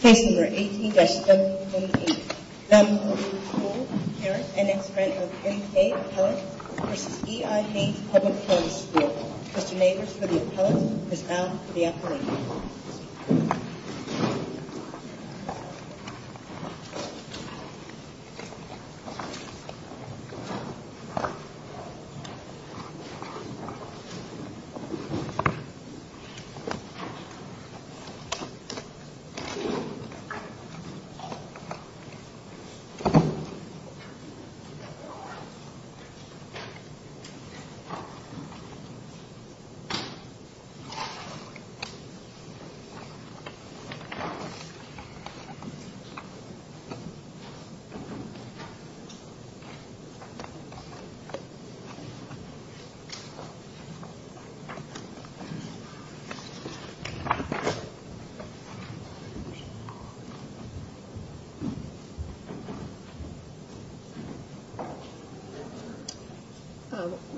Case No. 18-008, Lemma Olu-Cole, parent and ex-friend of M.K. Appellant v. E.l. Haynes Public Charter School. Mr. Mayers for the Appellant, Ms. Al for the Appellant. Mr. Mayers for the Appellant, Ms. Al for the Appellant.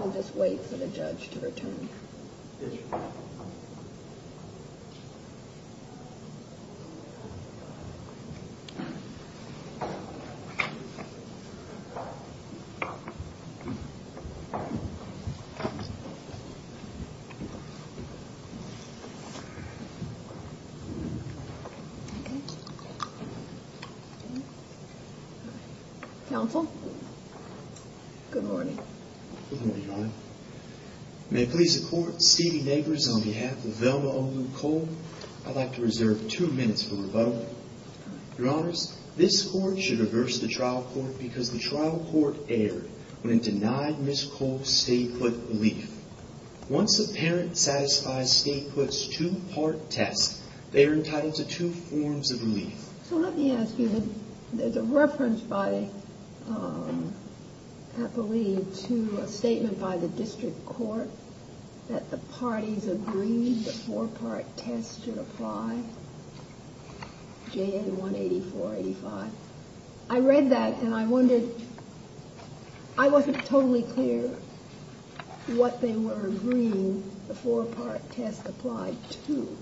I'll just wait for the judge to return. Counsel? Good morning. Good morning, Your Honor. May it please the Court, Stevie Nagers on behalf of Lemma Olu-Cole, I'd like to reserve two minutes for rebuttal. Your Honors, this Court should reverse the trial court because the trial court erred when it denied Ms. Cole's state foot relief. Once the parent satisfies state foot's two-part test, they are entitled to two forms of relief. So let me ask you, there's a reference by Appellee to a statement by the district court that the parties agreed the four-part test should apply, J.A. 18485. I read that and I wondered, I wasn't totally clear what they were agreeing the four-part test applied to.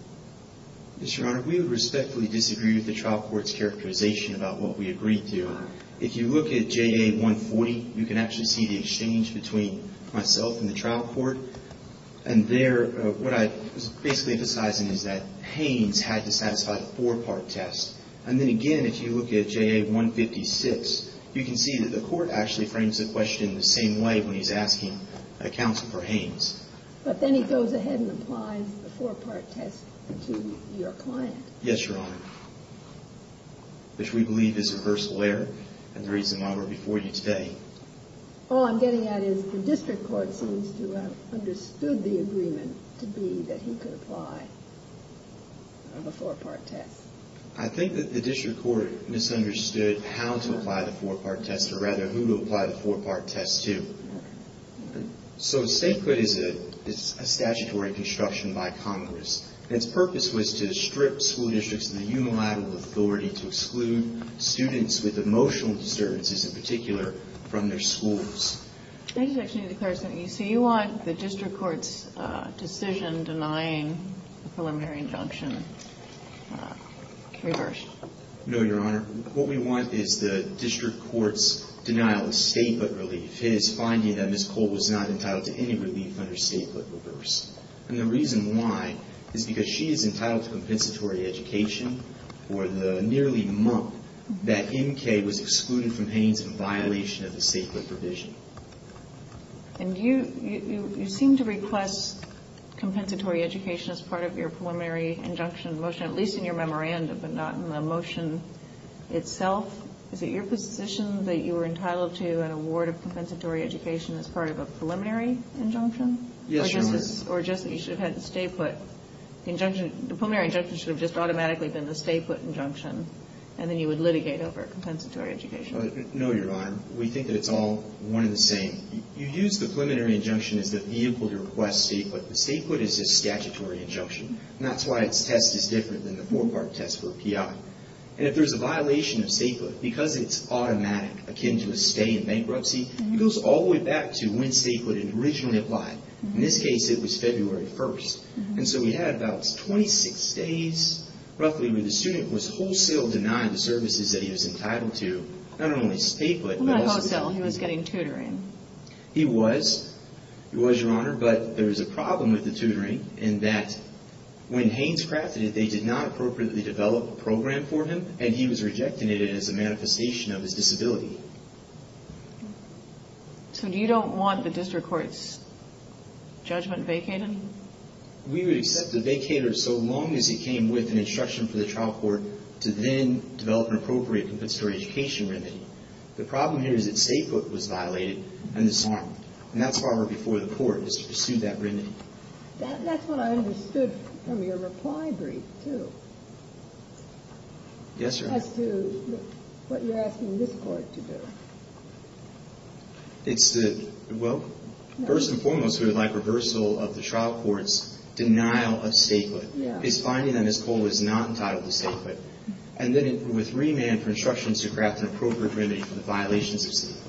Yes, Your Honor, we would respectfully disagree with the trial court's characterization about what we agreed to. If you look at J.A. 140, you can actually see the exchange between myself and the trial court. And there, what I was basically emphasizing is that Haynes had to satisfy the four-part test. And then again, if you look at J.A. 156, you can see that the court actually frames the question the same way when he's asking counsel for Haynes. But then he goes ahead and applies the four-part test to your client. Yes, Your Honor, which we believe is a reversal error and the reason why we're before you today. All I'm getting at is the district court seems to have understood the agreement to be that he could apply the four-part test. I think that the district court misunderstood how to apply the four-part test or rather who to apply the four-part test to. So statehood is a statutory construction by Congress. Its purpose was to strip school districts of the unilateral authority to exclude students with emotional disturbances in particular from their schools. I just actually need to clarify something. So you want the district court's decision denying the preliminary injunction reversed? No, Your Honor. What we want is the district court's denial of statehood relief. His finding that Ms. Cole was not entitled to any relief under statehood reversed. And the reason why is because she is entitled to compensatory education for the nearly month that M.K. was excluded from Haynes in violation of the statehood provision. And you seem to request compensatory education as part of your preliminary injunction motion, at least in your memorandum, but not in the motion itself. Is it your position that you were entitled to an award of compensatory education as part of a preliminary injunction? Yes, Your Honor. Or just that you should have had the statehood injunction. The preliminary injunction should have just automatically been the statehood injunction. And then you would litigate over compensatory education. No, Your Honor. We think that it's all one and the same. You use the preliminary injunction as the vehicle to request statehood. The statehood is a statutory injunction. And that's why its test is different than the four-part test for a PI. And if there's a violation of statehood, because it's automatic, akin to a stay in bankruptcy, it goes all the way back to when statehood had originally applied. In this case, it was February 1st. And so we had about 26 days, roughly, where the student was wholesale denied the services that he was entitled to, not only statehood, but also statehood. Well, not wholesale. He was getting tutoring. He was. He was, Your Honor. But there was a problem with the tutoring in that when Haynes crafted it, they did not appropriately develop a program for him, and he was rejecting it as a manifestation of his disability. So you don't want the district court's judgment vacated? We would accept a vacater so long as he came with an instruction for the trial court to then develop an appropriate compensatory education remedy. The problem here is that statehood was violated and disarmed. And that's why we're before the court, is to pursue that remedy. That's what I understood from your reply brief, too. Yes, Your Honor. As to what you're asking this court to do. It's the, well, first and foremost, we would like reversal of the trial court's denial of statehood. Yeah. It's finding that Ms. Cole was not entitled to statehood. And then with remand for instructions to craft an appropriate remedy for the violations of statehood.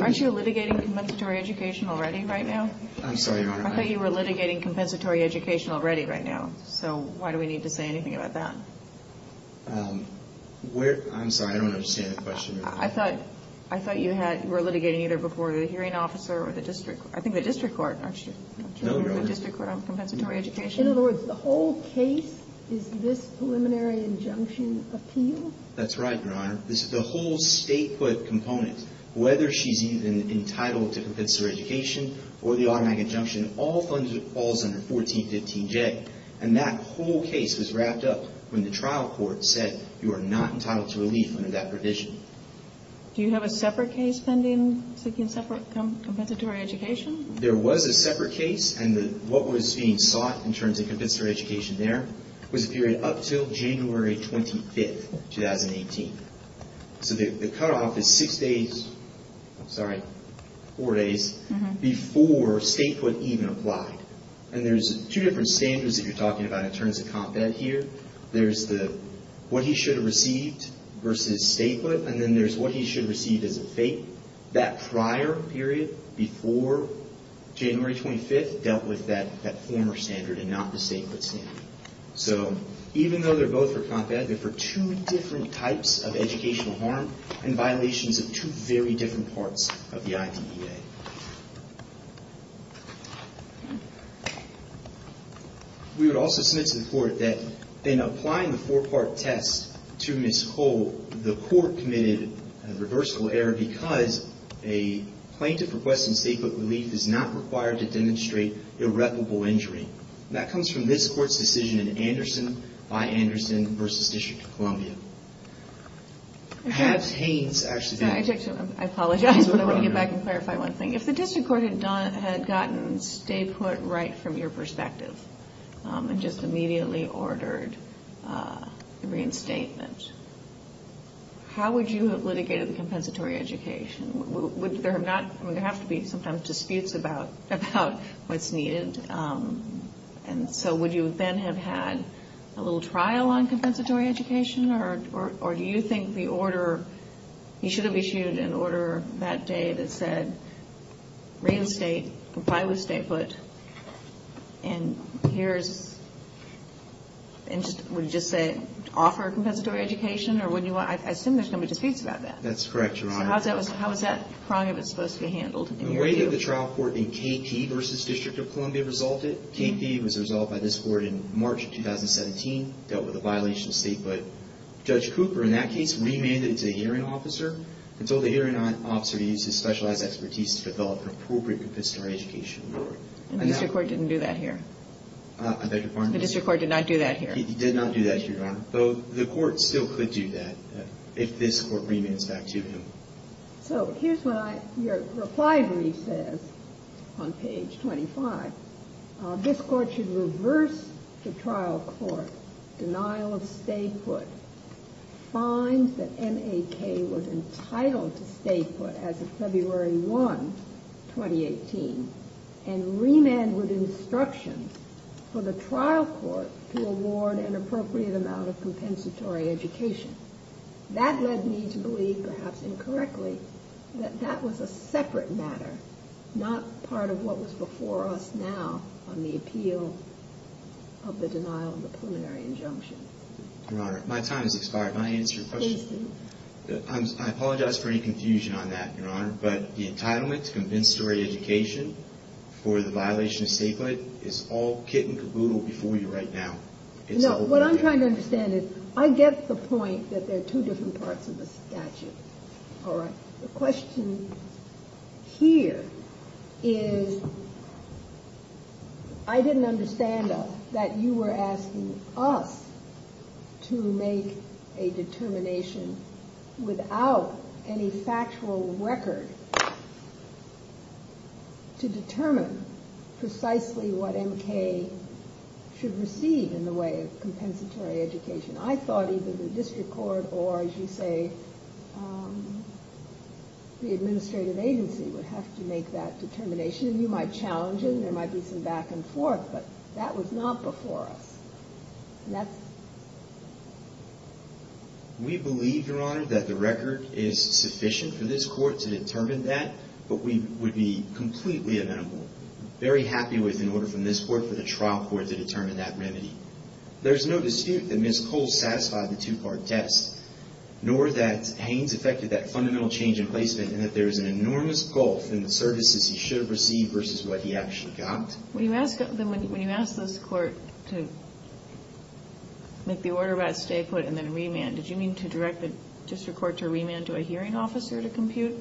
Aren't you litigating compensatory education already right now? I'm sorry, Your Honor. I thought you were litigating compensatory education already right now. So why do we need to say anything about that? I'm sorry. I don't understand the question. I thought you were litigating either before the hearing officer or the district court. I think the district court, aren't you? No, Your Honor. The district court on compensatory education. In other words, the whole case is this preliminary injunction appeal? That's right, Your Honor. This is the whole state put component. Whether she's entitled to compensatory education or the automatic injunction, all falls under 1415J. And that whole case was wrapped up when the trial court said you are not entitled to relief under that provision. Do you have a separate case pending, seeking separate compensatory education? There was a separate case. And what was being sought in terms of compensatory education there was a period up until January 25th, 2018. So the cutoff is six days, sorry, four days before state put even applied. And there's two different standards that you're talking about in terms of Comp Ed here. There's the what he should have received versus state put. And then there's what he should have received as a fake. That prior period before January 25th dealt with that former standard and not the state put standard. So even though they're both for Comp Ed, they're for two different types of educational harm and violations of two very different parts of the IDEA. We would also submit to the court that in applying the four-part test to Ms. Cole, the court committed a reversible error because a plaintiff requesting state put relief is not required to demonstrate irreparable injury. That comes from this court's decision in Anderson by Anderson versus District of Columbia. Has Haines actually been- I apologize, but I want to get back and clarify one thing. If the District Court had gotten state put right from your perspective and just immediately ordered the reinstatement, how would you have litigated the compensatory education? There have to be sometimes disputes about what's needed. And so would you then have had a little trial on compensatory education? Or do you think the order- you should have issued an order that day that said reinstate, comply with state put, and here's- would you just say offer compensatory education? I assume there's going to be disputes about that. That's correct, Your Honor. How is that prong of it supposed to be handled in your view? The way that the trial court in KP versus District of Columbia resolved it, KP was resolved by this court in March of 2017, dealt with a violation of state put. Judge Cooper in that case remanded it to a hearing officer and told the hearing officer to use his specialized expertise to develop an appropriate compensatory education. And the District Court didn't do that here? I beg your pardon? The District Court did not do that here? He did not do that here, Your Honor, though the court still could do that if this court remands back to him. So here's what I- your reply brief says on page 25. This court should reverse the trial court denial of state put, find that M.A.K. was entitled to state put as of February 1, 2018, and remand with instruction for the trial court to award an appropriate amount of compensatory education. That led me to believe, perhaps incorrectly, that that was a separate matter, not part of what was before us now on the appeal of the denial of the preliminary injunction. Your Honor, my time has expired. May I answer your question? Please do. I apologize for any confusion on that, Your Honor, but the entitlement to compensatory education for the violation of state put is all kit and caboodle before you right now. No, what I'm trying to understand is I get the point that there are two different parts of the statute. All right. The question here is I didn't understand that you were asking us to make a determination without any factual record to determine precisely what M.K. should receive in the way of compensatory education. I thought either the district court or, as you say, the administrative agency would have to make that determination. You might challenge it and there might be some back and forth, but that was not before us. We believe, Your Honor, that the record is sufficient for this court to determine that, but we would be completely amenable, very happy with, in order from this court, for the trial court to determine that remedy. There's no dispute that Ms. Cole satisfied the two-part test, nor that Haynes affected that fundamental change in placement and that there is an enormous gulf in the services he should have received versus what he actually got. When you asked this court to make the order about stay put and then remand, did you mean to direct the district court to remand to a hearing officer to compute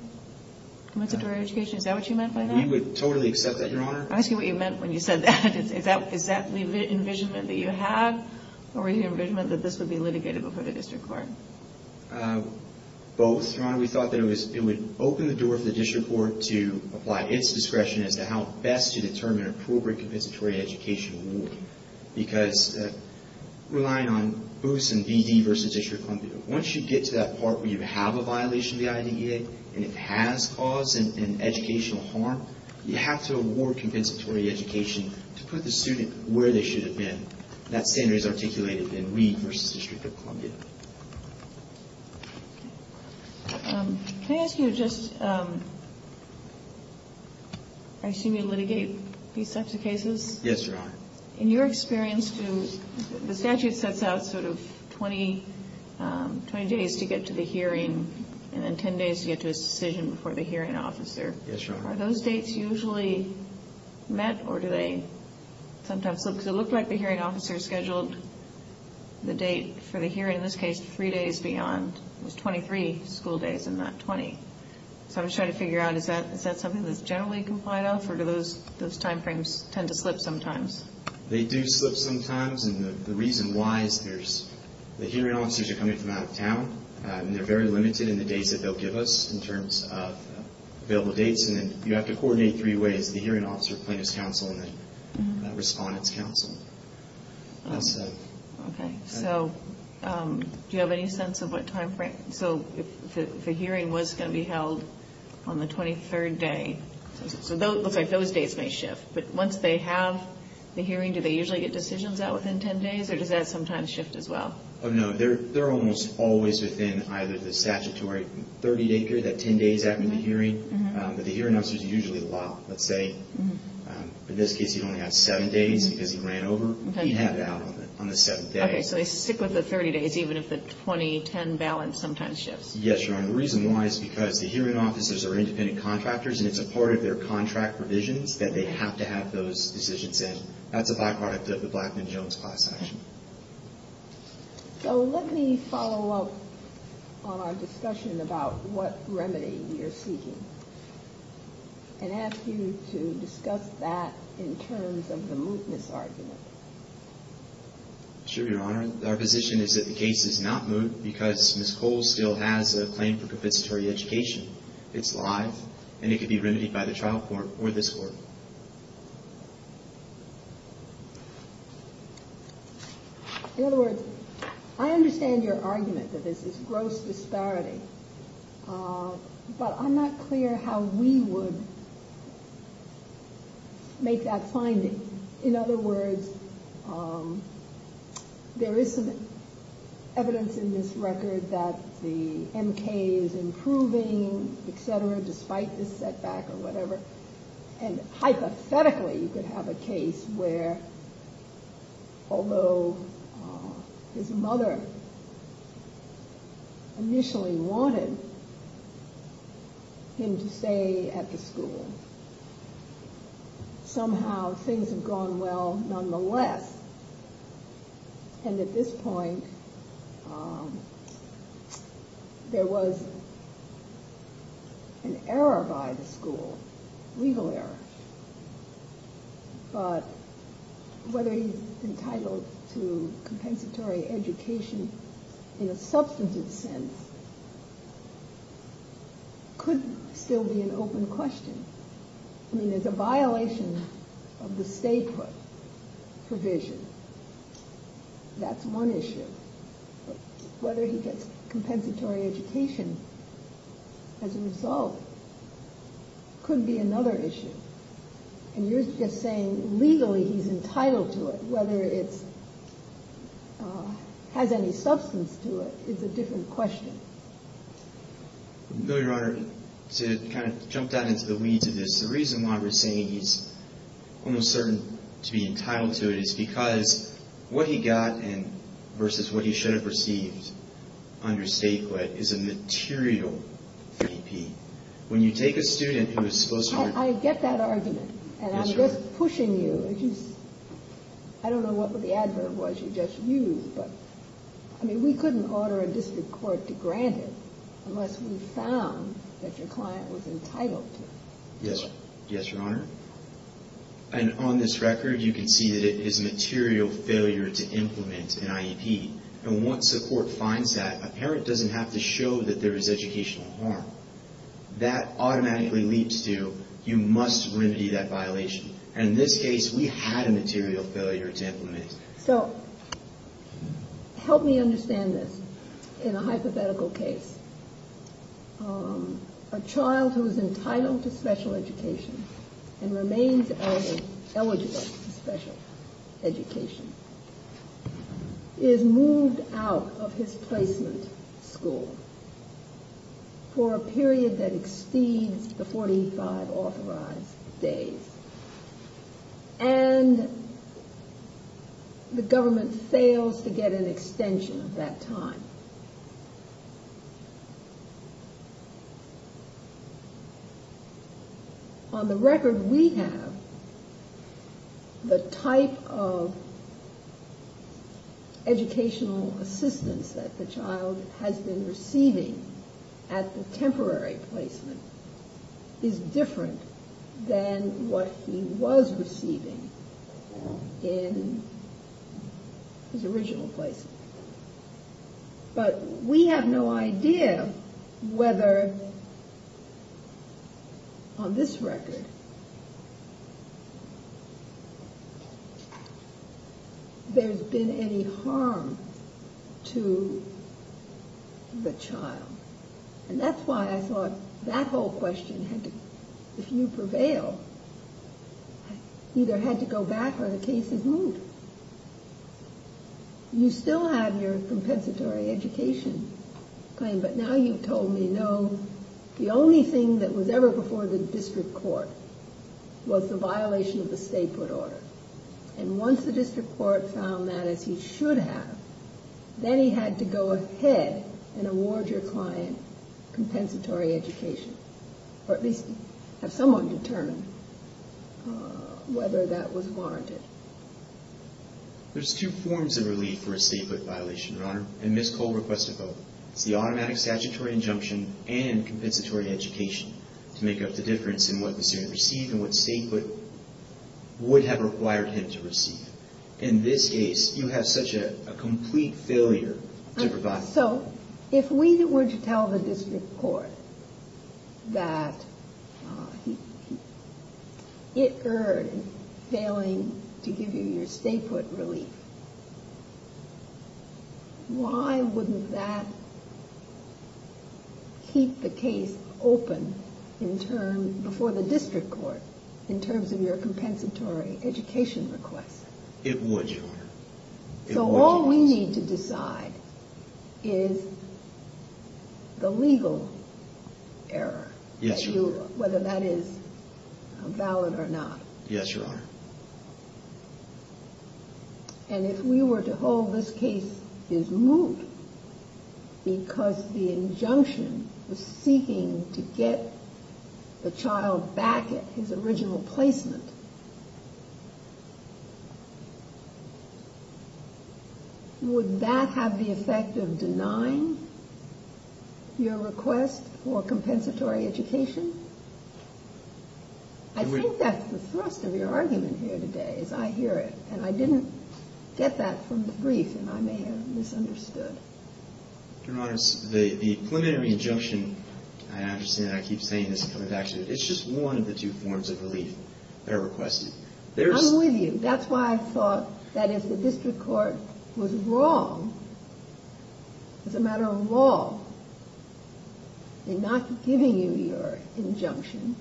compensatory education? Is that what you meant by that? We would totally accept that, Your Honor. I'm asking what you meant when you said that. Is that the envisionment that you had, or were you envisioning that this would be litigated before the district court? Both, Your Honor. We thought that it would open the door for the district court to apply its discretion as to how best to determine appropriate compensatory education award, because relying on BOOS and BD versus District of Columbia, once you get to that part where you have a violation of the IDEA and it has caused an educational harm, you have to award compensatory education to put the student where they should have been. That standard is articulated in Reed versus District of Columbia. Can I ask you just, I assume you litigate these types of cases? Yes, Your Honor. In your experience, the statute sets out sort of 20 days to get to the hearing and then 10 days to get to a decision before the hearing officer. Yes, Your Honor. Are those dates usually met or do they sometimes slip? Because it looked like the hearing officer scheduled the date for the hearing, in this case, three days beyond. It was 23 school days and not 20. So I'm just trying to figure out, is that something that's generally complied off or do those timeframes tend to slip sometimes? They do slip sometimes, and the reason why is the hearing officers are coming from out of town and they're very limited in the dates that they'll give us in terms of available dates. And then you have to coordinate three ways, the hearing officer, plaintiff's counsel, and the respondent's counsel. Okay. So do you have any sense of what timeframe? So if the hearing was going to be held on the 23rd day, so it looks like those days may shift. But once they have the hearing, do they usually get decisions out within 10 days or does that sometimes shift as well? No, they're almost always within either the statutory 30-day period, that 10 days after the hearing, but the hearing officer is usually locked. Let's say, in this case, he only had seven days because he ran over. He'd have it out on the seventh day. Okay, so they stick with the 30 days even if the 20-10 balance sometimes shifts. Yes, Your Honor. The reason why is because the hearing officers are independent contractors and it's a part of their contract provisions that they have to have those decisions in. That's a byproduct of the Blackman-Jones class action. So let me follow up on our discussion about what remedy you're seeking and ask you to discuss that in terms of the mootness argument. Sure, Your Honor. Our position is that the case is not moot because Ms. Cole still has a claim for compensatory education. It's live and it can be remedied by the trial court or this Court. In other words, I understand your argument that this is gross disparity, but I'm not clear how we would make that finding. In other words, there is some evidence in this record that the MK is improving, et cetera, despite this setback or whatever, and hypothetically you could have a case where, although his mother initially wanted him to stay at the school, somehow things have gone well nonetheless, and at this point there was an error by the school, legal error, but whether he's entitled to compensatory education in a substantive sense could still be an open question. I mean, it's a violation of the stay put provision. That's one issue, but whether he gets compensatory education as a result could be another issue, and you're just saying legally he's entitled to it, whether it has any substance to it is a different question. I know, Your Honor, to kind of jump down into the weeds of this, the reason why we're saying he's almost certain to be entitled to it is because what he got versus what he should have received under stay put is a material fee. When you take a student who is supposed to be... I get that argument, and I'm just pushing you. I don't know what the adverb was you just used, but I mean, we couldn't order a district court to grant it unless we found that your client was entitled to it. Yes, Your Honor, and on this record you can see that it is a material failure to implement an IEP, and once a court finds that, a parent doesn't have to show that there is educational harm. That automatically leads to you must remedy that violation, and in this case we had a material failure to implement it. So help me understand this in a hypothetical case. A child who is entitled to special education and remains eligible for special education is moved out of his placement school for a period that exceeds the 45 authorized days, and the government fails to get an extension of that time. On the record we have, the type of educational assistance that the child has been receiving at the temporary placement is different than what he was receiving in his original placement. But we have no idea whether on this record there's been any harm to the child, and that's why I thought that whole question, if you prevail, either had to go back or the case is moved. You still have your compensatory education claim, but now you've told me no. The only thing that was ever before the district court was the violation of the stay put order, and once the district court found that as he should have, then he had to go ahead and award your client compensatory education, or at least have someone determine whether that was warranted. There's two forms of relief for a stay put violation, Your Honor, and Ms. Cole requested both. It's the automatic statutory injunction and compensatory education to make up the difference in what the student received and what stay put would have required him to receive. In this case, you have such a complete failure to provide. So if we were to tell the district court that it erred in failing to give you your stay put relief, why wouldn't that keep the case open before the district court in terms of your compensatory education request? It would, Your Honor. So all we need to decide is the legal error, whether that is valid or not. Yes, Your Honor. And if we were to hold this case is moved because the injunction was seeking to get the child back at his original placement, would that have the effect of denying your request for compensatory education? I think that's the thrust of your argument here today, as I hear it. And I didn't get that from the brief, and I may have misunderstood. Your Honor, the preliminary injunction, and I understand that I keep saying this and coming back to it, it's just one of the two forms of relief that are requested. I'm with you. That's why I thought that if the district court was wrong, as a matter of law, in not giving you your injunction,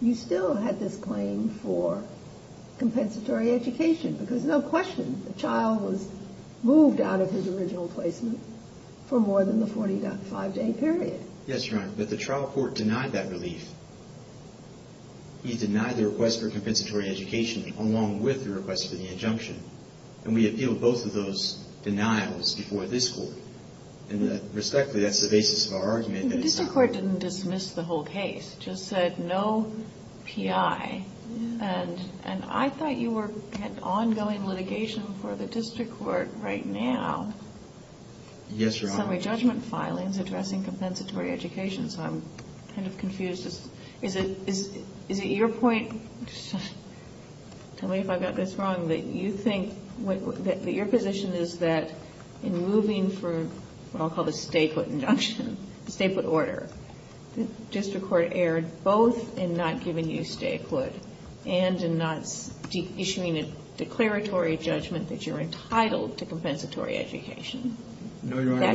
you still had this claim for compensatory education. Because no question, the child was moved out of his original placement for more than the 45-day period. Yes, Your Honor. But the trial court denied that relief. He denied the request for compensatory education along with the request for the injunction. And we appealed both of those denials before this court. And respectfully, that's the basis of our argument. The district court didn't dismiss the whole case, just said no PI. And I thought you were at ongoing litigation for the district court right now. Yes, Your Honor. Summary judgment filings addressing compensatory education, so I'm kind of confused. Is it your point, tell me if I got this wrong, that you think that your position is that in moving for what I'll call the stay-put injunction, the stay-put order, the district court erred both in not giving you stay-put and in not issuing a declaratory judgment that you're entitled to compensatory education? No, Your Honor.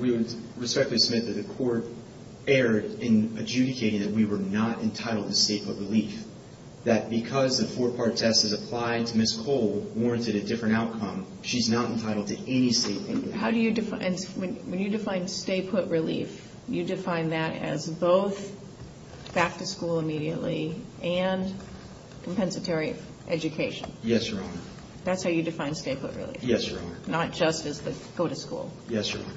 We would respectfully submit that the court erred in adjudicating that we were not entitled to stay-put relief. That because the four-part test is applied to Ms. Cole warranted a different outcome, she's not entitled to any stay-put. How do you define, when you define stay-put relief, you define that as both back to school immediately and compensatory education? Yes, Your Honor. That's how you define stay-put relief? Yes, Your Honor. Not just as the go to school? Yes, Your Honor.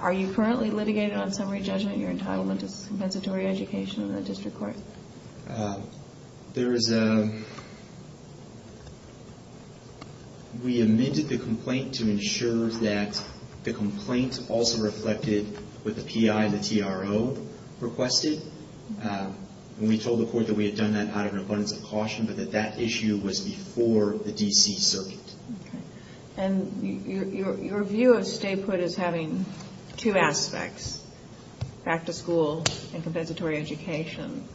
Are you currently litigated on summary judgment, you're entitled to compensatory education in the district court? We amended the complaint to ensure that the complaint also reflected what the PI, the TRO, requested. We told the court that we had done that out of an abundance of caution, but that that issue was before the D.C. circuit. And your view of stay-put is having two aspects, back to school and compensatory education.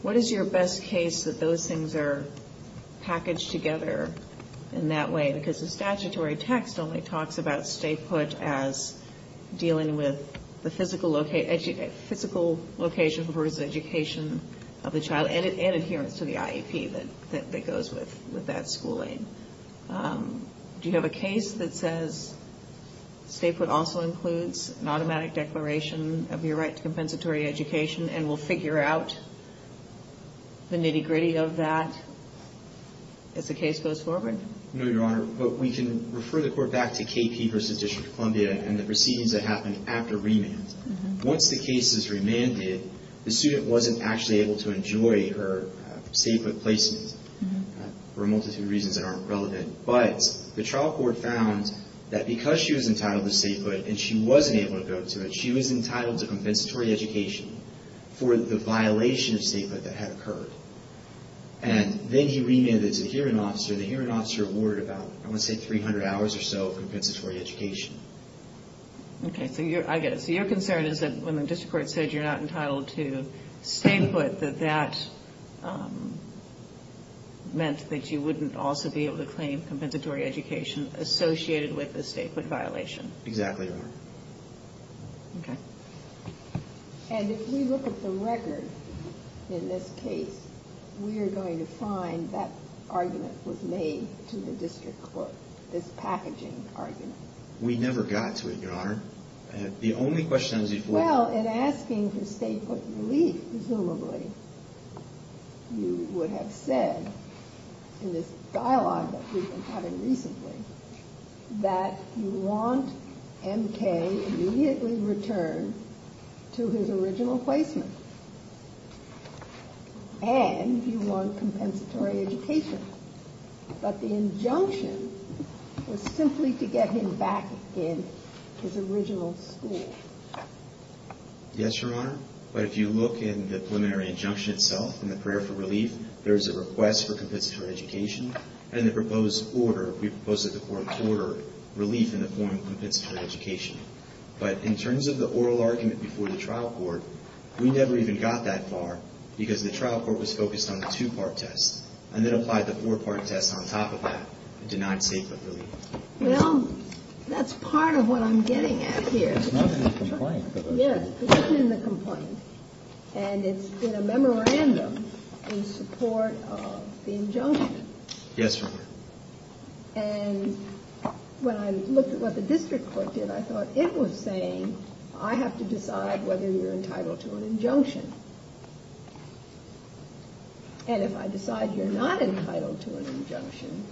What is your best case that those things are packaged together in that way? Because the statutory text only talks about stay-put as dealing with the physical location versus education of the child and adherence to the IEP that goes with that schooling. Do you have a case that says stay-put also includes an automatic declaration of your right to compensatory education and we'll figure out the nitty-gritty of that as the case goes forward? No, Your Honor. But we can refer the court back to KP versus District of Columbia and the proceedings that happened after remand. Once the case is remanded, the student wasn't actually able to enjoy her stay-put placement for a multitude of reasons that aren't relevant. But the trial court found that because she was entitled to stay-put and she wasn't able to go to it, she was entitled to compensatory education for the violation of stay-put that had occurred. And then he remanded to the hearing officer. The hearing officer ordered about, I want to say, 300 hours or so of compensatory education. Okay. So I get it. So your concern is that when the district court said you're not entitled to stay-put, that that meant that you wouldn't also be able to claim compensatory education? Compensatory education associated with the stay-put violation. Exactly, Your Honor. Okay. And if we look at the record in this case, we are going to find that argument was made to the district court, this packaging argument. We never got to it, Your Honor. The only question is if we... Well, in asking for stay-put relief, presumably, you would have said, in this dialogue that we've been having recently, that you want M.K. immediately returned to his original placement. And you want compensatory education. But the injunction was simply to get him back in his original school. Yes, Your Honor. But if you look in the preliminary injunction itself, in the prayer for relief, there is a request for compensatory education. And the proposed order, we proposed that the court order relief in the form of compensatory education. But in terms of the oral argument before the trial court, we never even got that far, because the trial court was focused on the two-part test. And then applied the four-part test on top of that and denied stay-put relief. Well, that's part of what I'm getting at here. It's not in the complaint. Yes, it's not in the complaint. And it's in a memorandum in support of the injunction. Yes, Your Honor. And when I looked at what the district court did, I thought it was saying, I have to decide whether you're entitled to an injunction. And if I decide you're not entitled to an injunction,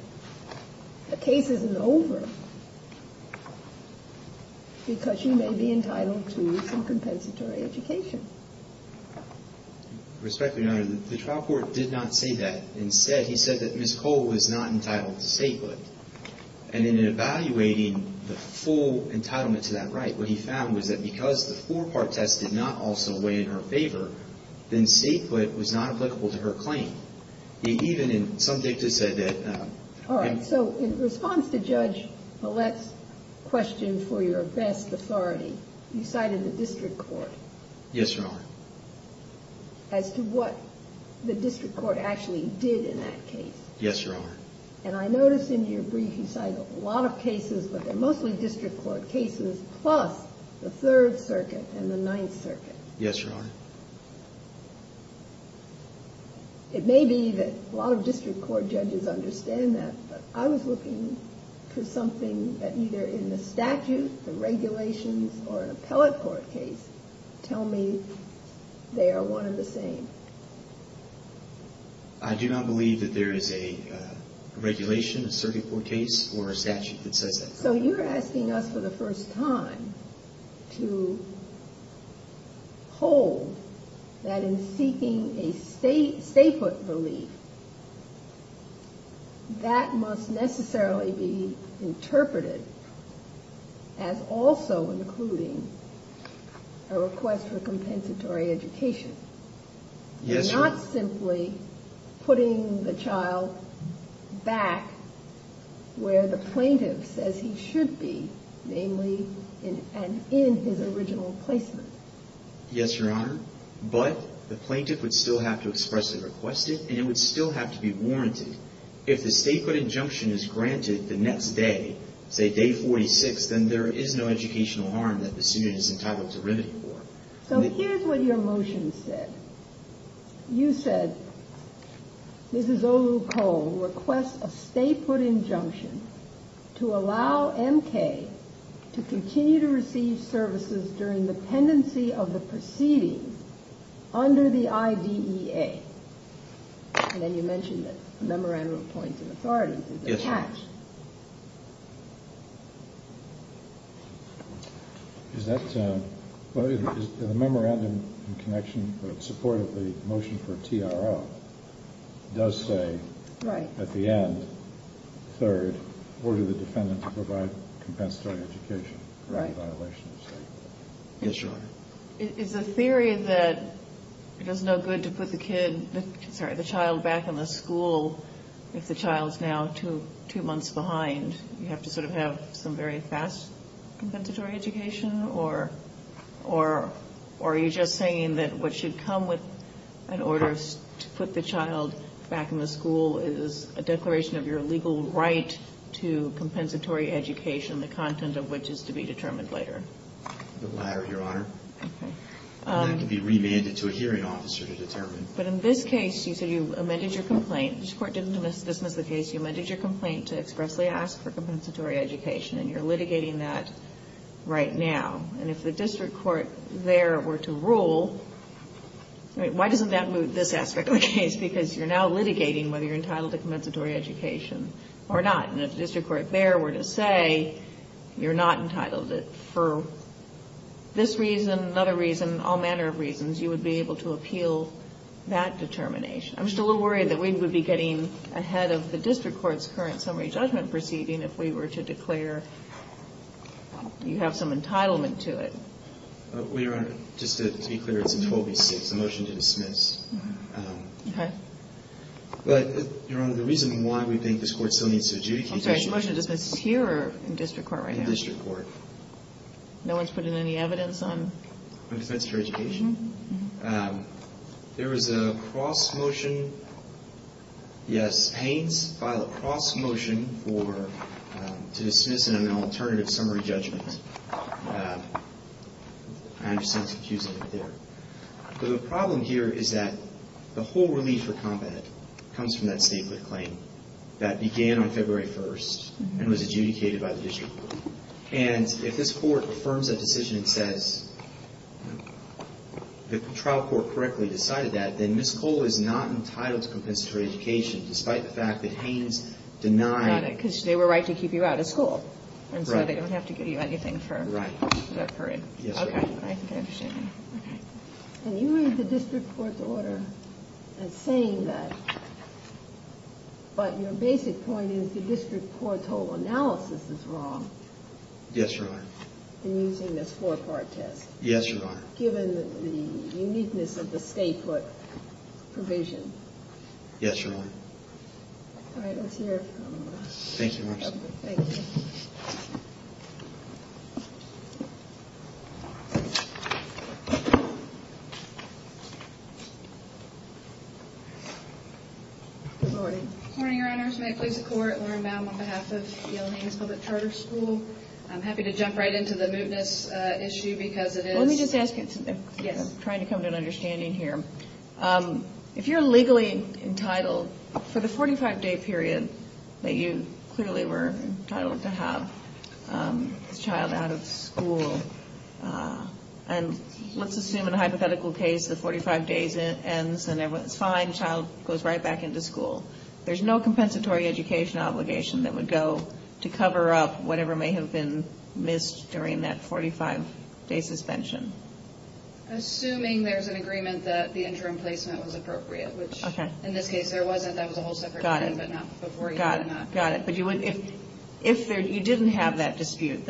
the case isn't over, because you may be entitled to some compensatory education. Respectfully, Your Honor, the trial court did not say that. Instead, he said that Ms. Cole was not entitled to stay-put. And in evaluating the full entitlement to that right, what he found was that because the four-part test did not also weigh in her favor, then stay-put was not applicable to her claim. Even in some dicta said that. All right. So in response to Judge Paulette's question for your best authority, you cited the district court. Yes, Your Honor. As to what the district court actually did in that case. Yes, Your Honor. And I notice in your brief, you cite a lot of cases, but they're mostly district court cases, plus the Third Circuit and the Ninth Circuit. Yes, Your Honor. It may be that a lot of district court judges understand that, but I was looking for something that either in the statute, the regulations, or an appellate court case tell me they are one and the same. I do not believe that there is a regulation, a circuit court case, or a statute that says that. So you're asking us for the first time to hold that in seeking a stay-put relief, that must necessarily be interpreted as also including a request for compensatory education. Yes, Your Honor. Not simply putting the child back where the plaintiff says he should be, namely in his original placement. Yes, Your Honor. But the plaintiff would still have to express a request, and it would still have to be warranted. If the stay-put injunction is granted the next day, say day 46, then there is no educational harm that the student is entitled to remedy for. So here's what your motion said. You said Mrs. Olu Cole requests a stay-put injunction to allow M.K. to continue to receive services during the pendency of the proceedings under the IDEA. And then you mentioned that memorandum of points of authority is attached. Yes, Your Honor. The memorandum in connection with support of the motion for TRO does say at the end, third, order the defendant to provide compensatory education for any violation of stay-put. Yes, Your Honor. Is the theory that it is no good to put the kid, sorry, the child back in the school if the child is now two months behind? You have to sort of have some very fast compensatory education? Or are you just saying that what should come with an order to put the child back in the school is a declaration of your legal right to compensatory education, the content of which is to be determined later? The latter, Your Honor. Okay. And that can be remanded to a hearing officer to determine. But in this case, you said you amended your complaint. The district court didn't dismiss the case. You amended your complaint to expressly ask for compensatory education. And you're litigating that right now. And if the district court there were to rule, why doesn't that move this aspect of the case? Because you're now litigating whether you're entitled to compensatory education or not. And if the district court there were to say you're not entitled for this reason, another reason, all manner of reasons, you would be able to appeal that determination. I'm just a little worried that we would be getting ahead of the district court's current summary judgment proceeding if we were to declare you have some entitlement to it. Well, Your Honor, just to be clear, it's in 12B6, the motion to dismiss. Okay. But, Your Honor, the reason why we think this court still needs to adjudicate. I'm sorry, is your motion to dismiss here or in district court right now? In district court. No one's put in any evidence on? On compensatory education? Mm-hmm. There was a cross motion. Yes, Haynes filed a cross motion to dismiss in an alternative summary judgment. I understand it's confusing up there. The problem here is that the whole relief for combat comes from that statehood claim that began on February 1st and was adjudicated by the district court. And if this court affirms that decision and says the trial court correctly decided that, then Ms. Cole is not entitled to compensatory education despite the fact that Haynes denied. Got it. Because they were right to keep you out of school. Right. And so they don't have to give you anything for that period. Right. Yes, Your Honor. Okay. I think I understand. Okay. And you read the district court's order as saying that, but your basic point is the district court's whole analysis is wrong. Yes, Your Honor. In using this four-part test. Yes, Your Honor. Given the uniqueness of the statehood provision. Yes, Your Honor. All right. Let's hear it from Ms. Cole. Thank you, Your Honor. Thank you. Good morning. Good morning, Your Honors. May it please the Court. Lauren Baum on behalf of Yale Haynes Public Charter School. I'm happy to jump right into the mootness issue because it is. Let me just ask you something. Yes. I'm trying to come to an understanding here. If you're legally entitled, for the 45-day period that you clearly were entitled to have the child out of school, and let's assume in a hypothetical case the 45 days ends and everyone is fine, the child goes right back into school. There's no compensatory education obligation that would go to cover up whatever may have been missed during that 45-day suspension. Assuming there's an agreement that the interim placement was appropriate, which in this case there wasn't. That was a whole separate thing. Got it. Got it. But if you didn't have that dispute,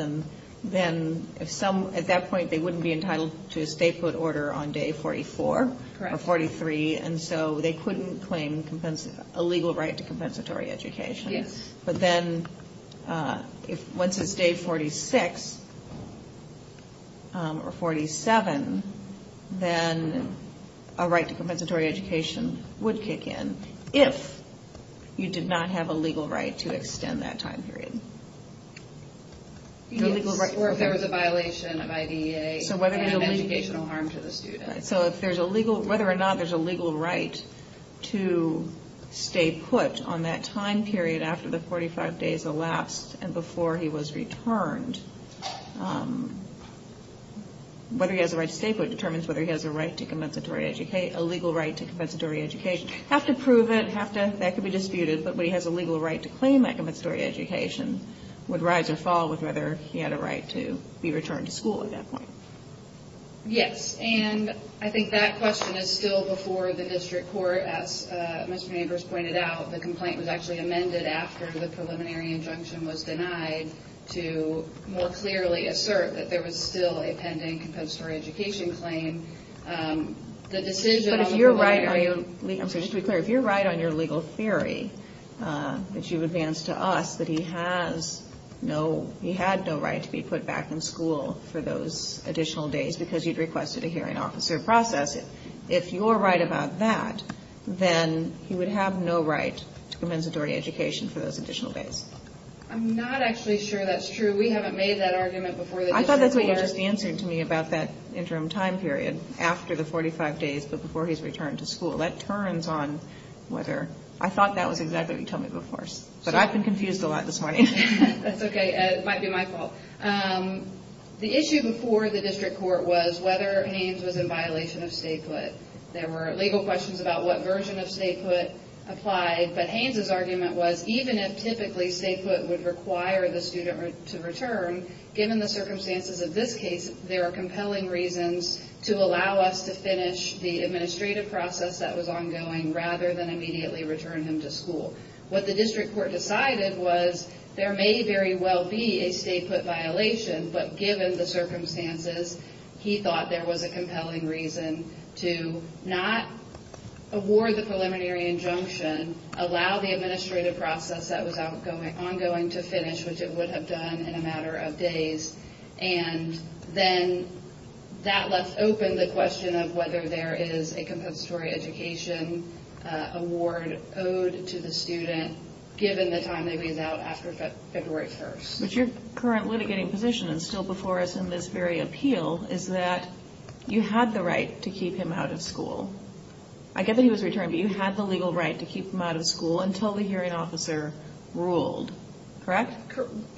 then at that point they wouldn't be entitled to a statehood order on day 44 or 43. Correct. And so they couldn't claim a legal right to compensatory education. Yes. But then once it's day 46 or 47, then a right to compensatory education would kick in, if you did not have a legal right to extend that time period. Yes, or if there was a violation of IDEA and educational harm to the student. So if there's a legal – whether or not there's a legal right to stay put on that time period after the 45 days elapsed and before he was returned, whether he has a right to stay put determines whether he has a right to compensatory – a legal right to compensatory education. Have to prove it, have to – that could be disputed, but when he has a legal right to claim that compensatory education would rise or fall with whether he had a right to be returned to school at that point. Yes, and I think that question is still before the district court. As Mr. Nabors pointed out, the complaint was actually amended after the preliminary injunction was denied to more clearly assert that there was still a pending compensatory education claim. The decision on the preliminary – But if you're right – I'm sorry, just to be clear, if you're right on your legal theory that you've advanced to us, that he has no – he had no right to be put back in school for those additional days because you'd requested a hearing officer process it. If you're right about that, then he would have no right to compensatory education for those additional days. I'm not actually sure that's true. We haven't made that argument before the district court. I thought that's what you were just answering to me about that interim time period after the 45 days but before he's returned to school. That turns on whether – I thought that was exactly what you told me before. But I've been confused a lot this morning. That's okay. It might be my fault. The issue before the district court was whether Haynes was in violation of stay put. There were legal questions about what version of stay put applied, but Haynes' argument was even if typically stay put would require the student to return, given the circumstances of this case, there are compelling reasons to allow us to finish the administrative process that was ongoing rather than immediately return him to school. What the district court decided was there may very well be a stay put violation, but given the circumstances, he thought there was a compelling reason to not award the preliminary injunction, allow the administrative process that was ongoing to finish, which it would have done in a matter of days. And then that left open the question of whether there is a compensatory education award owed to the student given the time they leave out after February 1st. But your current litigating position, and still before us in this very appeal, is that you had the right to keep him out of school. I get that he was returned, but you had the legal right to keep him out of school until the hearing officer ruled. Correct?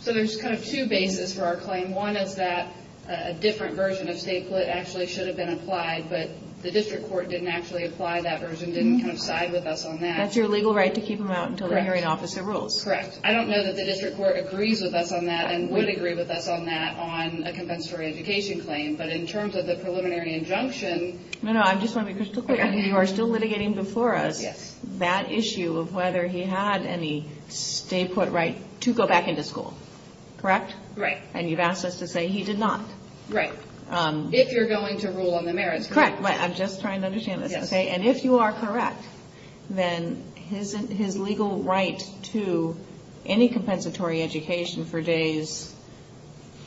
So there's kind of two bases for our claim. One is that a different version of stay put actually should have been applied, but the district court didn't actually apply that version, didn't kind of side with us on that. That's your legal right to keep him out until the hearing officer rules. Correct. I don't know that the district court agrees with us on that and would agree with us on that on a compensatory education claim, but in terms of the preliminary injunction... No, no, I just want to be crystal clear. You are still litigating before us. Yes. That issue of whether he had any stay put right to go back into school. Correct? Right. And you've asked us to say he did not. Right. If you're going to rule on the merits. Correct. I'm just trying to understand this. And if you are correct, then his legal right to any compensatory education for days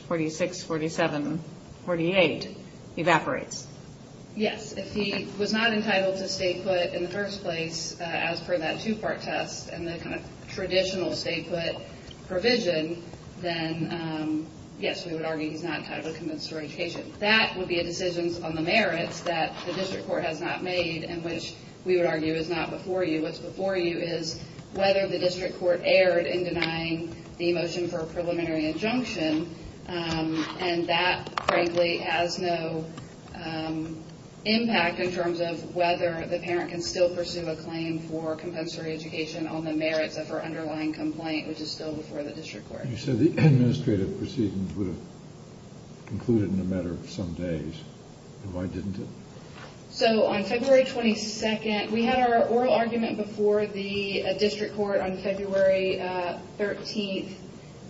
46, 47, 48 evaporates. Yes. If he was not entitled to stay put in the first place as per that two part test and the kind of traditional stay put provision, then yes, we would argue he's not entitled to compensatory education. That would be a decision on the merits that the district court has not made and which we would argue is not before you. What's before you is whether the district court erred in denying the motion for a preliminary injunction and that frankly has no impact in terms of whether the parent can still pursue a claim for compensatory education on the merits of her underlying complaint, which is still before the district court. You said the administrative proceedings would have concluded in a matter of some days. Why didn't it? So, on February 22nd, we had our oral argument before the district court on February 13th.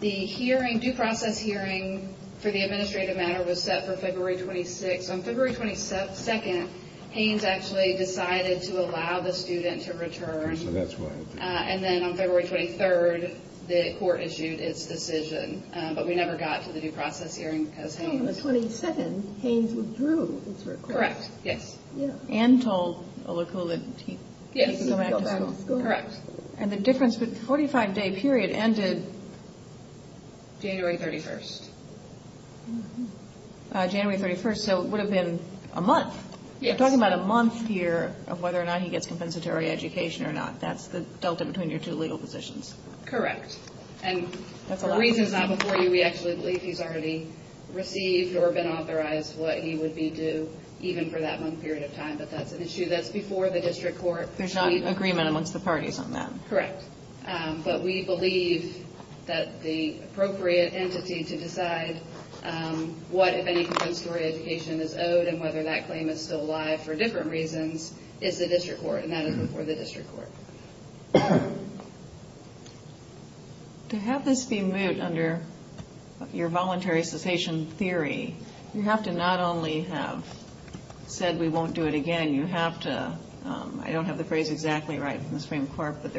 The hearing, due process hearing for the administrative matter was set for February 26th. On February 22nd, Haynes actually decided to allow the student to return. And then on February 23rd, the court issued its decision, but we never got to the due process hearing. On the 22nd, Haynes withdrew its request. Correct, yes. And told Olakule that he could go back to school. Correct. And the difference, the 45-day period ended January 31st. January 31st, so it would have been a month. Yes. We're talking about a month here of whether or not he gets compensatory education or not. That's the delta between your two legal positions. Correct. And the reason is not before you. We actually believe he's already received or been authorized what he would be due even for that one period of time, but that's an issue that's before the district court. There's not agreement amongst the parties on that. Correct. But we believe that the appropriate entity to decide what, if any, compensatory education is owed and whether that claim is still alive for different reasons is the district court, and that is before the district court. To have this be moved under your voluntary cessation theory, you have to not only have said we won't do it again, you have to, I don't have the phrase exactly right from the Supreme Court, but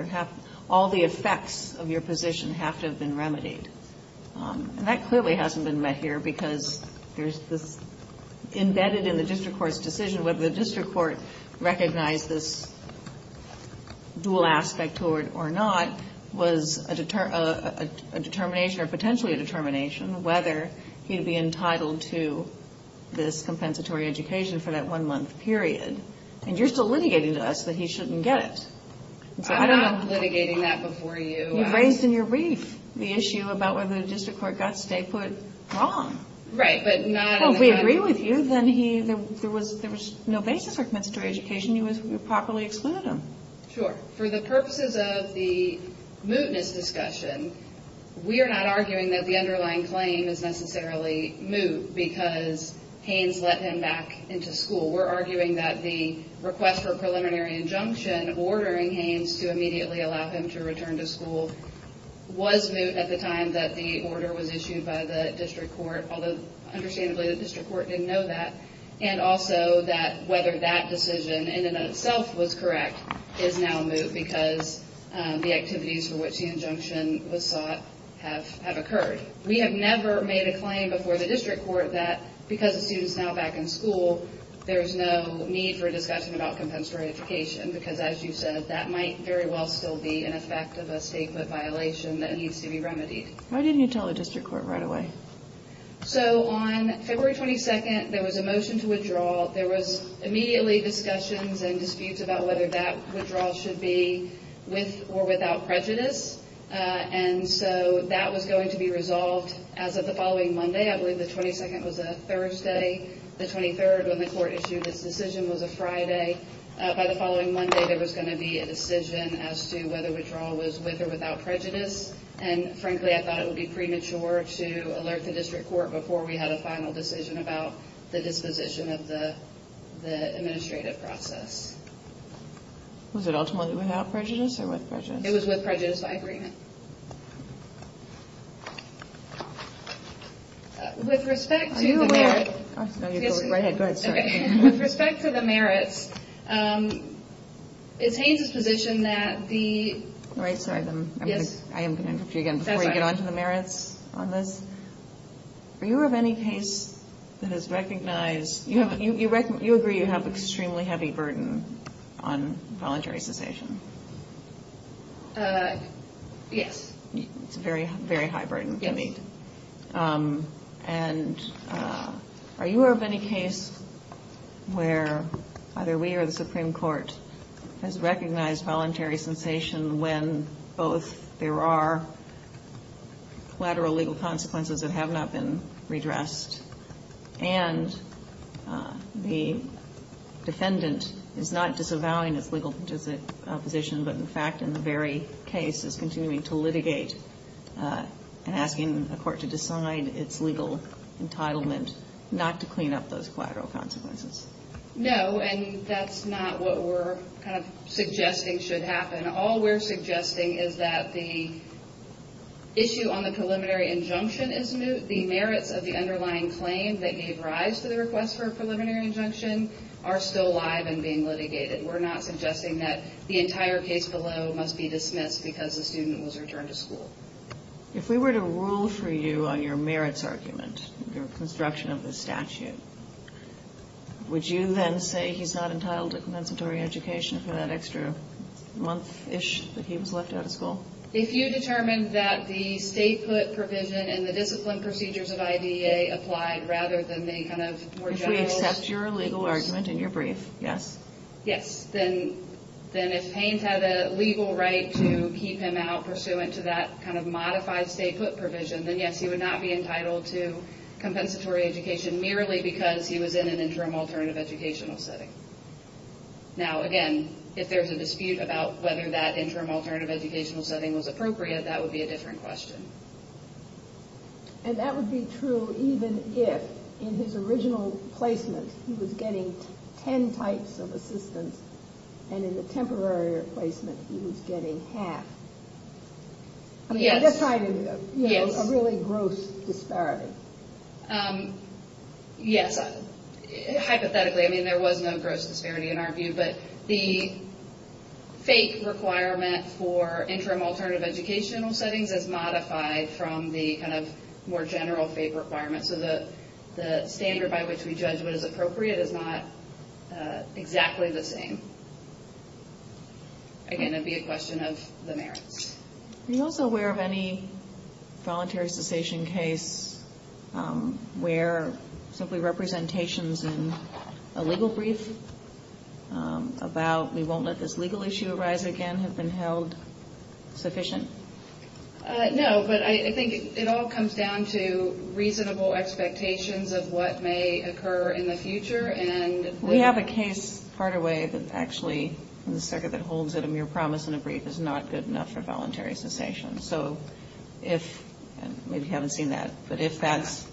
all the effects of your position have to have been remedied. And that clearly hasn't been met here because there's this embedded in the district court's decision whether the district court recognized this dual aspect or not was a determination or potentially a determination whether he'd be entitled to this compensatory education for that one-month period. And you're still litigating to us that he shouldn't get it. I'm not litigating that before you. You've raised in your brief the issue about whether the district court got Stakehood wrong. Right, but not in the court. Well, if we agree with you, then there was no basis for compensatory education. You properly excluded him. Sure. For the purposes of the mootness discussion, we are not arguing that the underlying claim is necessarily moot because Haynes let him back into school. We're arguing that the request for a preliminary injunction ordering Haynes to immediately allow him to return to school was moot at the time that the order was issued by the district court, although understandably the district court didn't know that, and also that whether that decision in and of itself was correct is now moot because the activities for which the injunction was sought have occurred. We have never made a claim before the district court that because the student's now back in school, there's no need for a discussion about compensatory education because, as you said, that might very well still be an effect of a Stakehood violation that needs to be remedied. Why didn't you tell the district court right away? So on February 22nd, there was a motion to withdraw. There was immediately discussions and disputes about whether that withdrawal should be with or without prejudice, and so that was going to be resolved as of the following Monday. I believe the 22nd was a Thursday. The 23rd, when the court issued its decision, was a Friday. By the following Monday, there was going to be a decision as to whether withdrawal was with or without prejudice, and frankly I thought it would be premature to alert the district court before we had a final decision about the disposition of the administrative process. Was it ultimately without prejudice or with prejudice? It was with prejudice by agreement. With respect to the merits, it's Haynes's position that the ñ All right. Sorry. I am going to interrupt you again before you get on to the merits on this. Are you of any case that has recognized ñ you agree you have extremely heavy burden on voluntary cessation? Yes. It's a very high burden to meet. Yes. And are you of any case where either we or the Supreme Court has recognized voluntary cessation when both there are collateral legal consequences that have not been redressed and the defendant is not disavowing its legal position, but in fact in the very case is continuing to litigate and asking a court to decide its legal entitlement not to clean up those collateral consequences? No, and that's not what we're kind of suggesting should happen. All we're suggesting is that the issue on the preliminary injunction is moot. The merits of the underlying claim that gave rise to the request for a preliminary injunction are still alive and being litigated. We're not suggesting that the entire case below must be dismissed because the student was returned to school. If we were to rule for you on your merits argument, your construction of the statute, would you then say he's not entitled to compensatory education for that extra month-ish that he was left out of school? If you determined that the state put provision in the discipline procedures of IDEA applied rather than the kind of more general ñ If we accept your legal argument in your brief, yes? Yes, then if Haynes had a legal right to keep him out pursuant to that kind of modified state put provision, then yes, he would not be entitled to compensatory education merely because he was in an interim alternative educational setting. Now, again, if there's a dispute about whether that interim alternative educational setting was appropriate, that would be a different question. And that would be true even if in his original placement he was getting ten types of assistance and in the temporary placement he was getting half. Yes. I mean, that's a really gross disparity. Yes. Hypothetically, I mean, there was no gross disparity in our view, but the FAPE requirement for interim alternative educational settings is modified from the kind of more general FAPE requirement, so the standard by which we judge what is appropriate is not exactly the same. Again, it would be a question of the merits. Are you also aware of any voluntary cessation case where simply representations in a legal brief about we won't let this legal issue arise again have been held sufficient? No, but I think it all comes down to reasonable expectations of what may occur in the future. We have a case partway that actually in the circuit that holds that a mere promise in a brief is not good enough for voluntary cessation. So if, and maybe you haven't seen that, but if that's,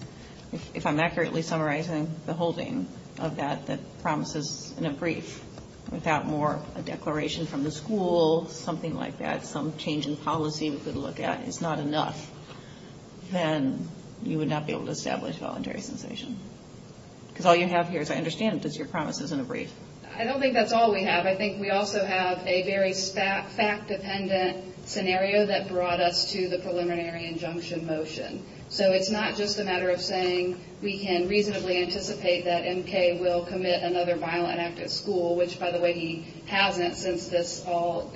if I'm accurately summarizing the holding of that, that promises in a brief without more a declaration from the school, something like that, some change in policy we could look at is not enough, then you would not be able to establish voluntary cessation. Because all you have here, as I understand it, is your promises in a brief. I don't think that's all we have. I think we also have a very fact-dependent scenario that brought us to the preliminary injunction motion. So it's not just a matter of saying we can reasonably anticipate that M.K. will commit another violent act at school, which, by the way, he hasn't since this all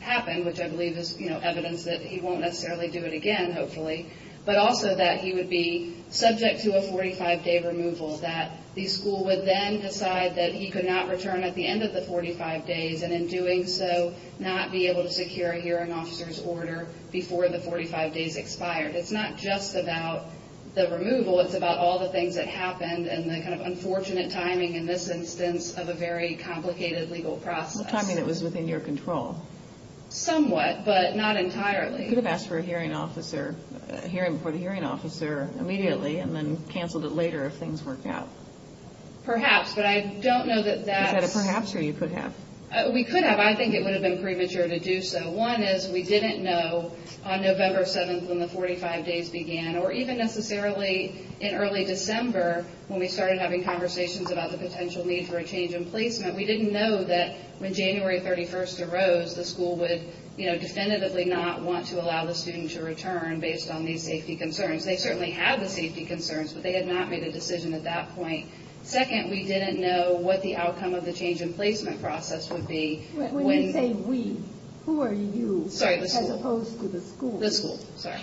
happened, which I believe is evidence that he won't necessarily do it again, hopefully, but also that he would be subject to a 45-day removal, that the school would then decide that he could not return at the end of the 45 days, and in doing so not be able to secure a hearing officer's order before the 45 days expired. It's not just about the removal. It's about all the things that happened and the kind of unfortunate timing in this instance of a very complicated legal process. What timing that was within your control? Somewhat, but not entirely. You could have asked for a hearing before the hearing officer immediately and then canceled it later if things worked out. Perhaps, but I don't know that that's- Is that a perhaps or you could have? We could have. I think it would have been premature to do so. One is we didn't know on November 7th when the 45 days began, or even necessarily in early December when we started having conversations about the potential need for a change in placement. We didn't know that when January 31st arose, the school would definitively not want to allow the student to return based on these safety concerns. They certainly had the safety concerns, but they had not made a decision at that point. Second, we didn't know what the outcome of the change in placement process would be when- When you say we, who are you? Sorry, the school. As opposed to the school. The school, sorry.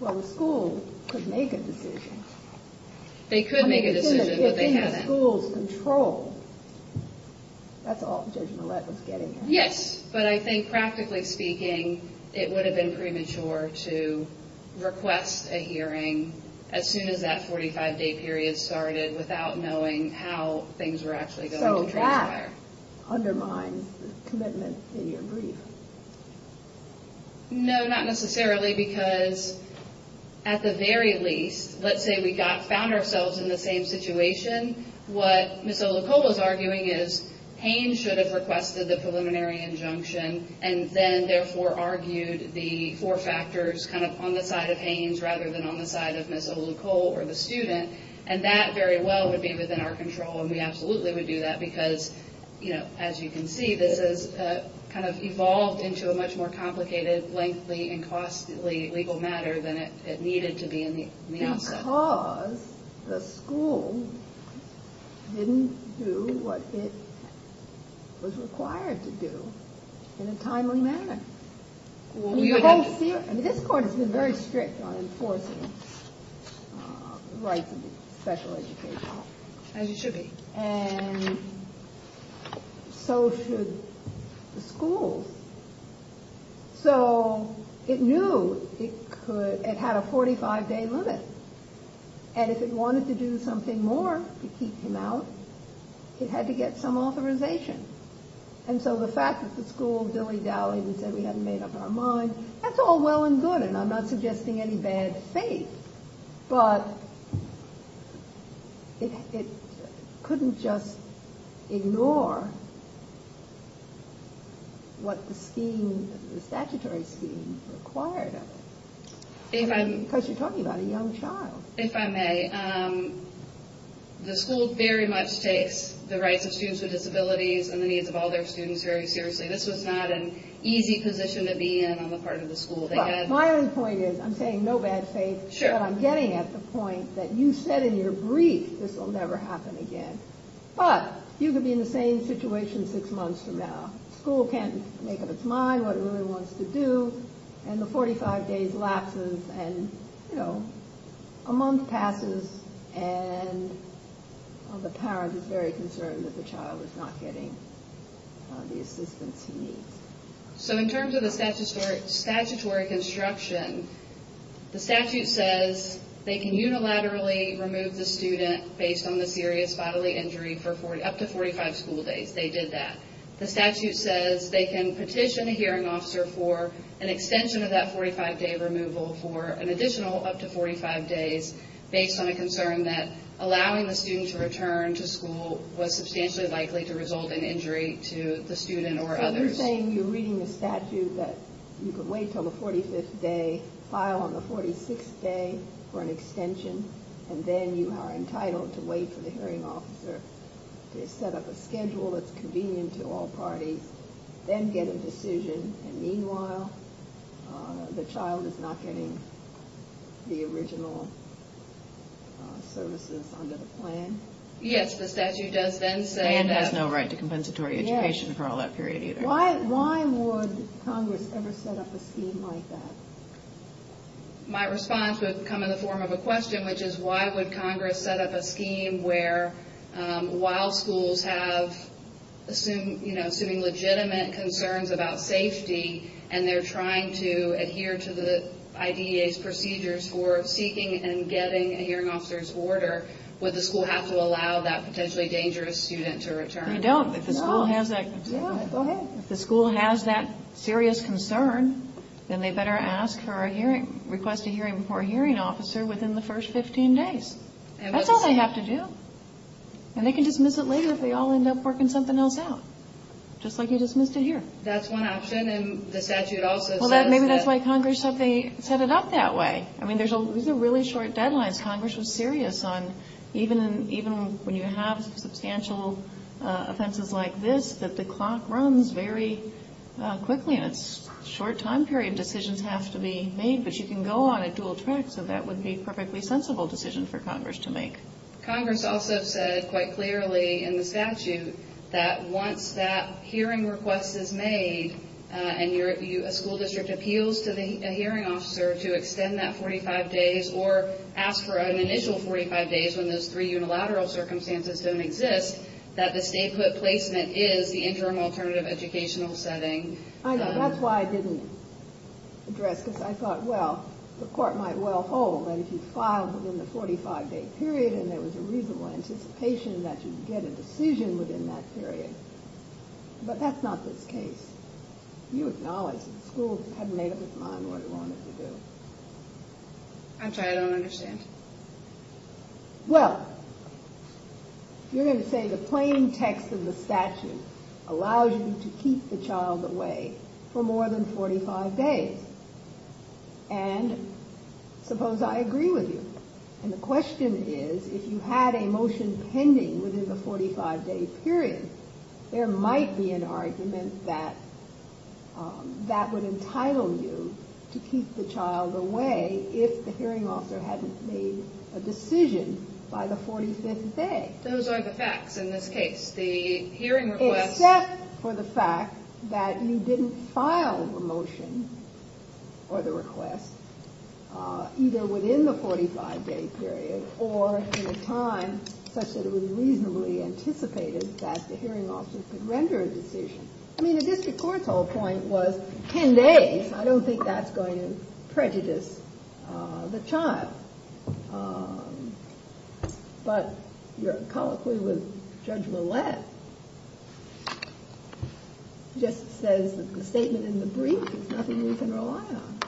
Well, the school could make a decision. They could make a decision, but they haven't. The school's control. That's all Judge Millett was getting at. Yes, but I think practically speaking, it would have been premature to request a hearing as soon as that 45-day period started without knowing how things were actually going to transpire. So that undermines the commitment in your brief? No, not necessarily, because at the very least, let's say we found ourselves in the same situation. What Ms. Olucole was arguing is Haines should have requested the preliminary injunction and then therefore argued the four factors kind of on the side of Haines rather than on the side of Ms. Olucole or the student, and that very well would be within our control, and we absolutely would do that, because as you can see, this has kind of evolved into a much more complicated, lengthy, and costly legal matter than it needed to be in the outset. Because the school didn't do what it was required to do in a timely manner. This Court has been very strict on enforcing the rights of special education. As it should be. And so should the schools. So it knew it had a 45-day limit, and if it wanted to do something more to keep him out, it had to get some authorization. And so the fact that the school dilly-dallied and said we hadn't made up our mind, that's all well and good, and I'm not suggesting any bad faith, but it couldn't just ignore what the statutory scheme required of it. Because you're talking about a young child. If I may, the school very much takes the rights of students with disabilities and the needs of all their students very seriously. This was not an easy position to be in on the part of the school. My only point is I'm saying no bad faith, but I'm getting at the point that you said in your brief this will never happen again. But you could be in the same situation six months from now. The school can't make up its mind what it really wants to do, and the 45 days lapses, and a month passes, and the parent is very concerned that the child is not getting the assistance he needs. So in terms of the statutory construction, the statute says they can unilaterally remove the student based on the serious bodily injury up to 45 school days. They did that. The statute says they can petition a hearing officer for an extension of that 45-day removal for an additional up to 45 days based on a concern that allowing the student to return to school was substantially likely to result in injury to the student or others. So you're saying you're reading the statute that you can wait until the 45th day, file on the 46th day for an extension, and then you are entitled to wait for the hearing officer to set up a schedule that's convenient to all parties, then get a decision, and meanwhile the child is not getting the original services under the plan? Yes, the statute does then say that. It has no right to compensatory education for all that period either. Why would Congress ever set up a scheme like that? My response would come in the form of a question, which is why would Congress set up a scheme where, while schools have assuming legitimate concerns about safety and they're trying to adhere to the IDEA's procedures for seeking and getting a hearing officer's order, would the school have to allow that potentially dangerous student to return? They don't. If the school has that serious concern, then they better request a hearing for a hearing officer within the first 15 days. That's all they have to do. And they can dismiss it later if they all end up working something else out, just like you dismissed it here. That's one option, and the statute also says that. Well, maybe that's why Congress set it up that way. I mean, these are really short deadlines. Congress was serious on even when you have substantial offenses like this, that the clock runs very quickly, and it's a short time period. Decisions have to be made, but you can go on a dual track, so that would be a perfectly sensible decision for Congress to make. Congress also said quite clearly in the statute that once that hearing request is made and a school district appeals to a hearing officer to extend that 45 days or ask for an initial 45 days when those three unilateral circumstances don't exist, that the statehood placement is the interim alternative educational setting. I know. That's why I didn't address this. I thought, well, the court might well hold that if you filed within the 45-day period and there was a reasonable anticipation that you'd get a decision within that period. But that's not this case. You acknowledge that the school hadn't made up its mind what it wanted to do. I'm sorry, I don't understand. Well, you're going to say the plain text of the statute allows you to keep the child away for more than 45 days. And suppose I agree with you. And the question is, if you had a motion pending within the 45-day period, there might be an argument that that would entitle you to keep the child away if the hearing officer hadn't made a decision by the 45th day. Those are the facts in this case. The hearing request… Except for the fact that you didn't file the motion or the request either within the 45-day period or in a time such that it was reasonably anticipated that the hearing officer could render a decision. I mean, the district court's whole point was 10 days. I don't think that's going to prejudice the child. But your colloquy with Judge Millett just says that the statement in the brief is nothing we can rely on.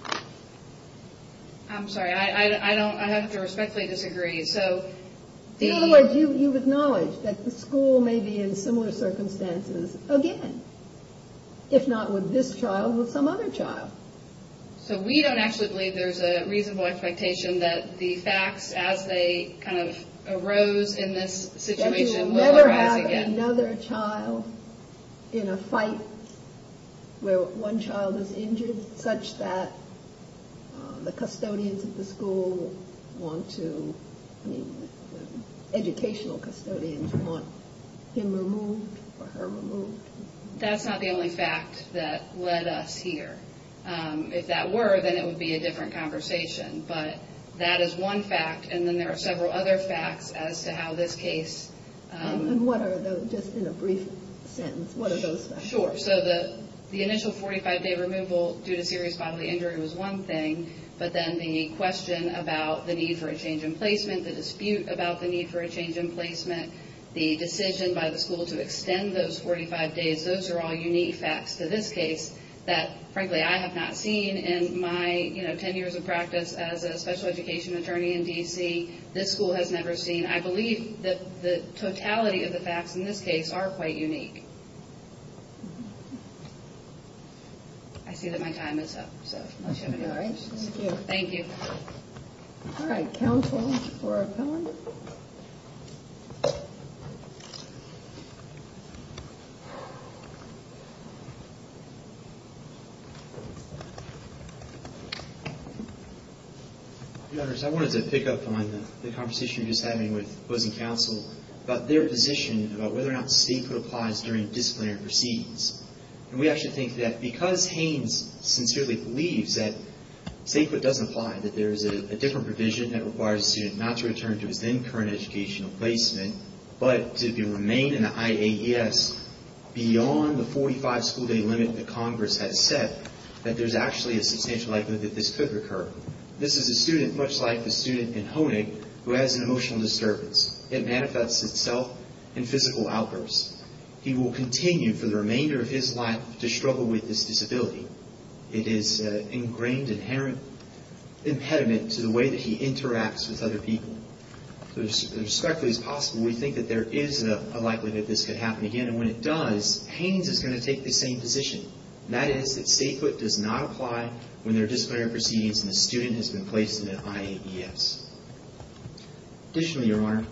I'm sorry, I have to respectfully disagree. In other words, you've acknowledged that the school may be in similar circumstances again, if not with this child, with some other child. So we don't actually believe there's a reasonable expectation that the facts, as they kind of arose in this situation, will arise again. Another child in a fight where one child is injured such that the custodians of the school want to… educational custodians want him removed or her removed. That's not the only fact that led us here. If that were, then it would be a different conversation. But that is one fact, and then there are several other facts as to how this case… And what are those, just in a brief sentence, what are those facts? Sure. So the initial 45-day removal due to serious bodily injury was one thing, but then the question about the need for a change in placement, the dispute about the need for a change in placement, the decision by the school to extend those 45 days, those are all unique facts to this case that, frankly, I have not seen in my 10 years of practice as a special education attorney in D.C. This school has never seen. And I believe that the totality of the facts in this case are quite unique. I see that my time is up, so unless you have any more questions. Thank you. Thank you. All right. Counsel for appellant? Counsel for appellant? Your Honors, I wanted to pick up on the conversation you were just having with opposing counsel about their position about whether or not statehood applies during disciplinary proceedings. And we actually think that because Haynes sincerely believes that statehood doesn't apply, that there is a different provision that requires a student not to return to his then-current educational placement, but to remain in the IAES beyond the 45-school-day limit that Congress has set, that there's actually a substantial likelihood that this could occur. This is a student, much like the student in Honig, who has an emotional disturbance. It manifests itself in physical outbursts. He will continue for the remainder of his life to struggle with this disability. It is an ingrained, inherent impediment to the way that he interacts with other people. So as respectfully as possible, we think that there is a likelihood that this could happen again. And when it does, Haynes is going to take the same position, and that is that statehood does not apply when there are disciplinary proceedings and the student has been placed in an IAES. Additionally, Your Honor,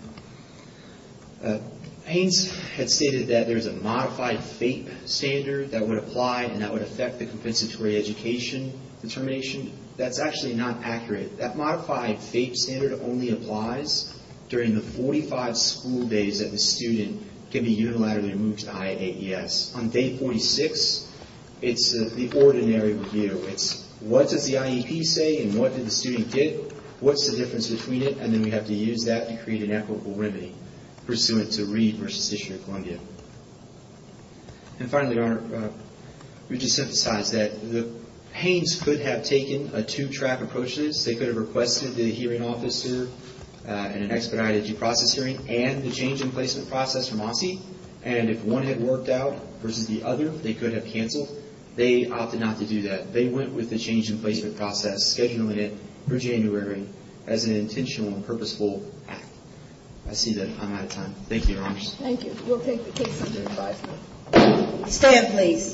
Haynes had stated that there is a modified FAPE standard that would apply and that would affect the compensatory education determination. That's actually not accurate. That modified FAPE standard only applies during the 45-school-days that the student can be unilaterally moved to IAES. On day 46, it's the ordinary review. It's what does the IEP say and what did the student get? What's the difference between it? And then we have to use that to create an equitable remedy pursuant to Reed v. District of Columbia. And finally, Your Honor, we just sympathize that Haynes could have taken a two-track approach to this. They could have requested the hearing officer in an expedited due process hearing and the change in placement process from OSCE. And if one had worked out versus the other, they could have canceled. They opted not to do that. They went with the change in placement process, scheduling it for January as an intentional and purposeful act. I see that I'm out of time. Thank you, Your Honors. Thank you. We'll take the case under advisement. Stand, please.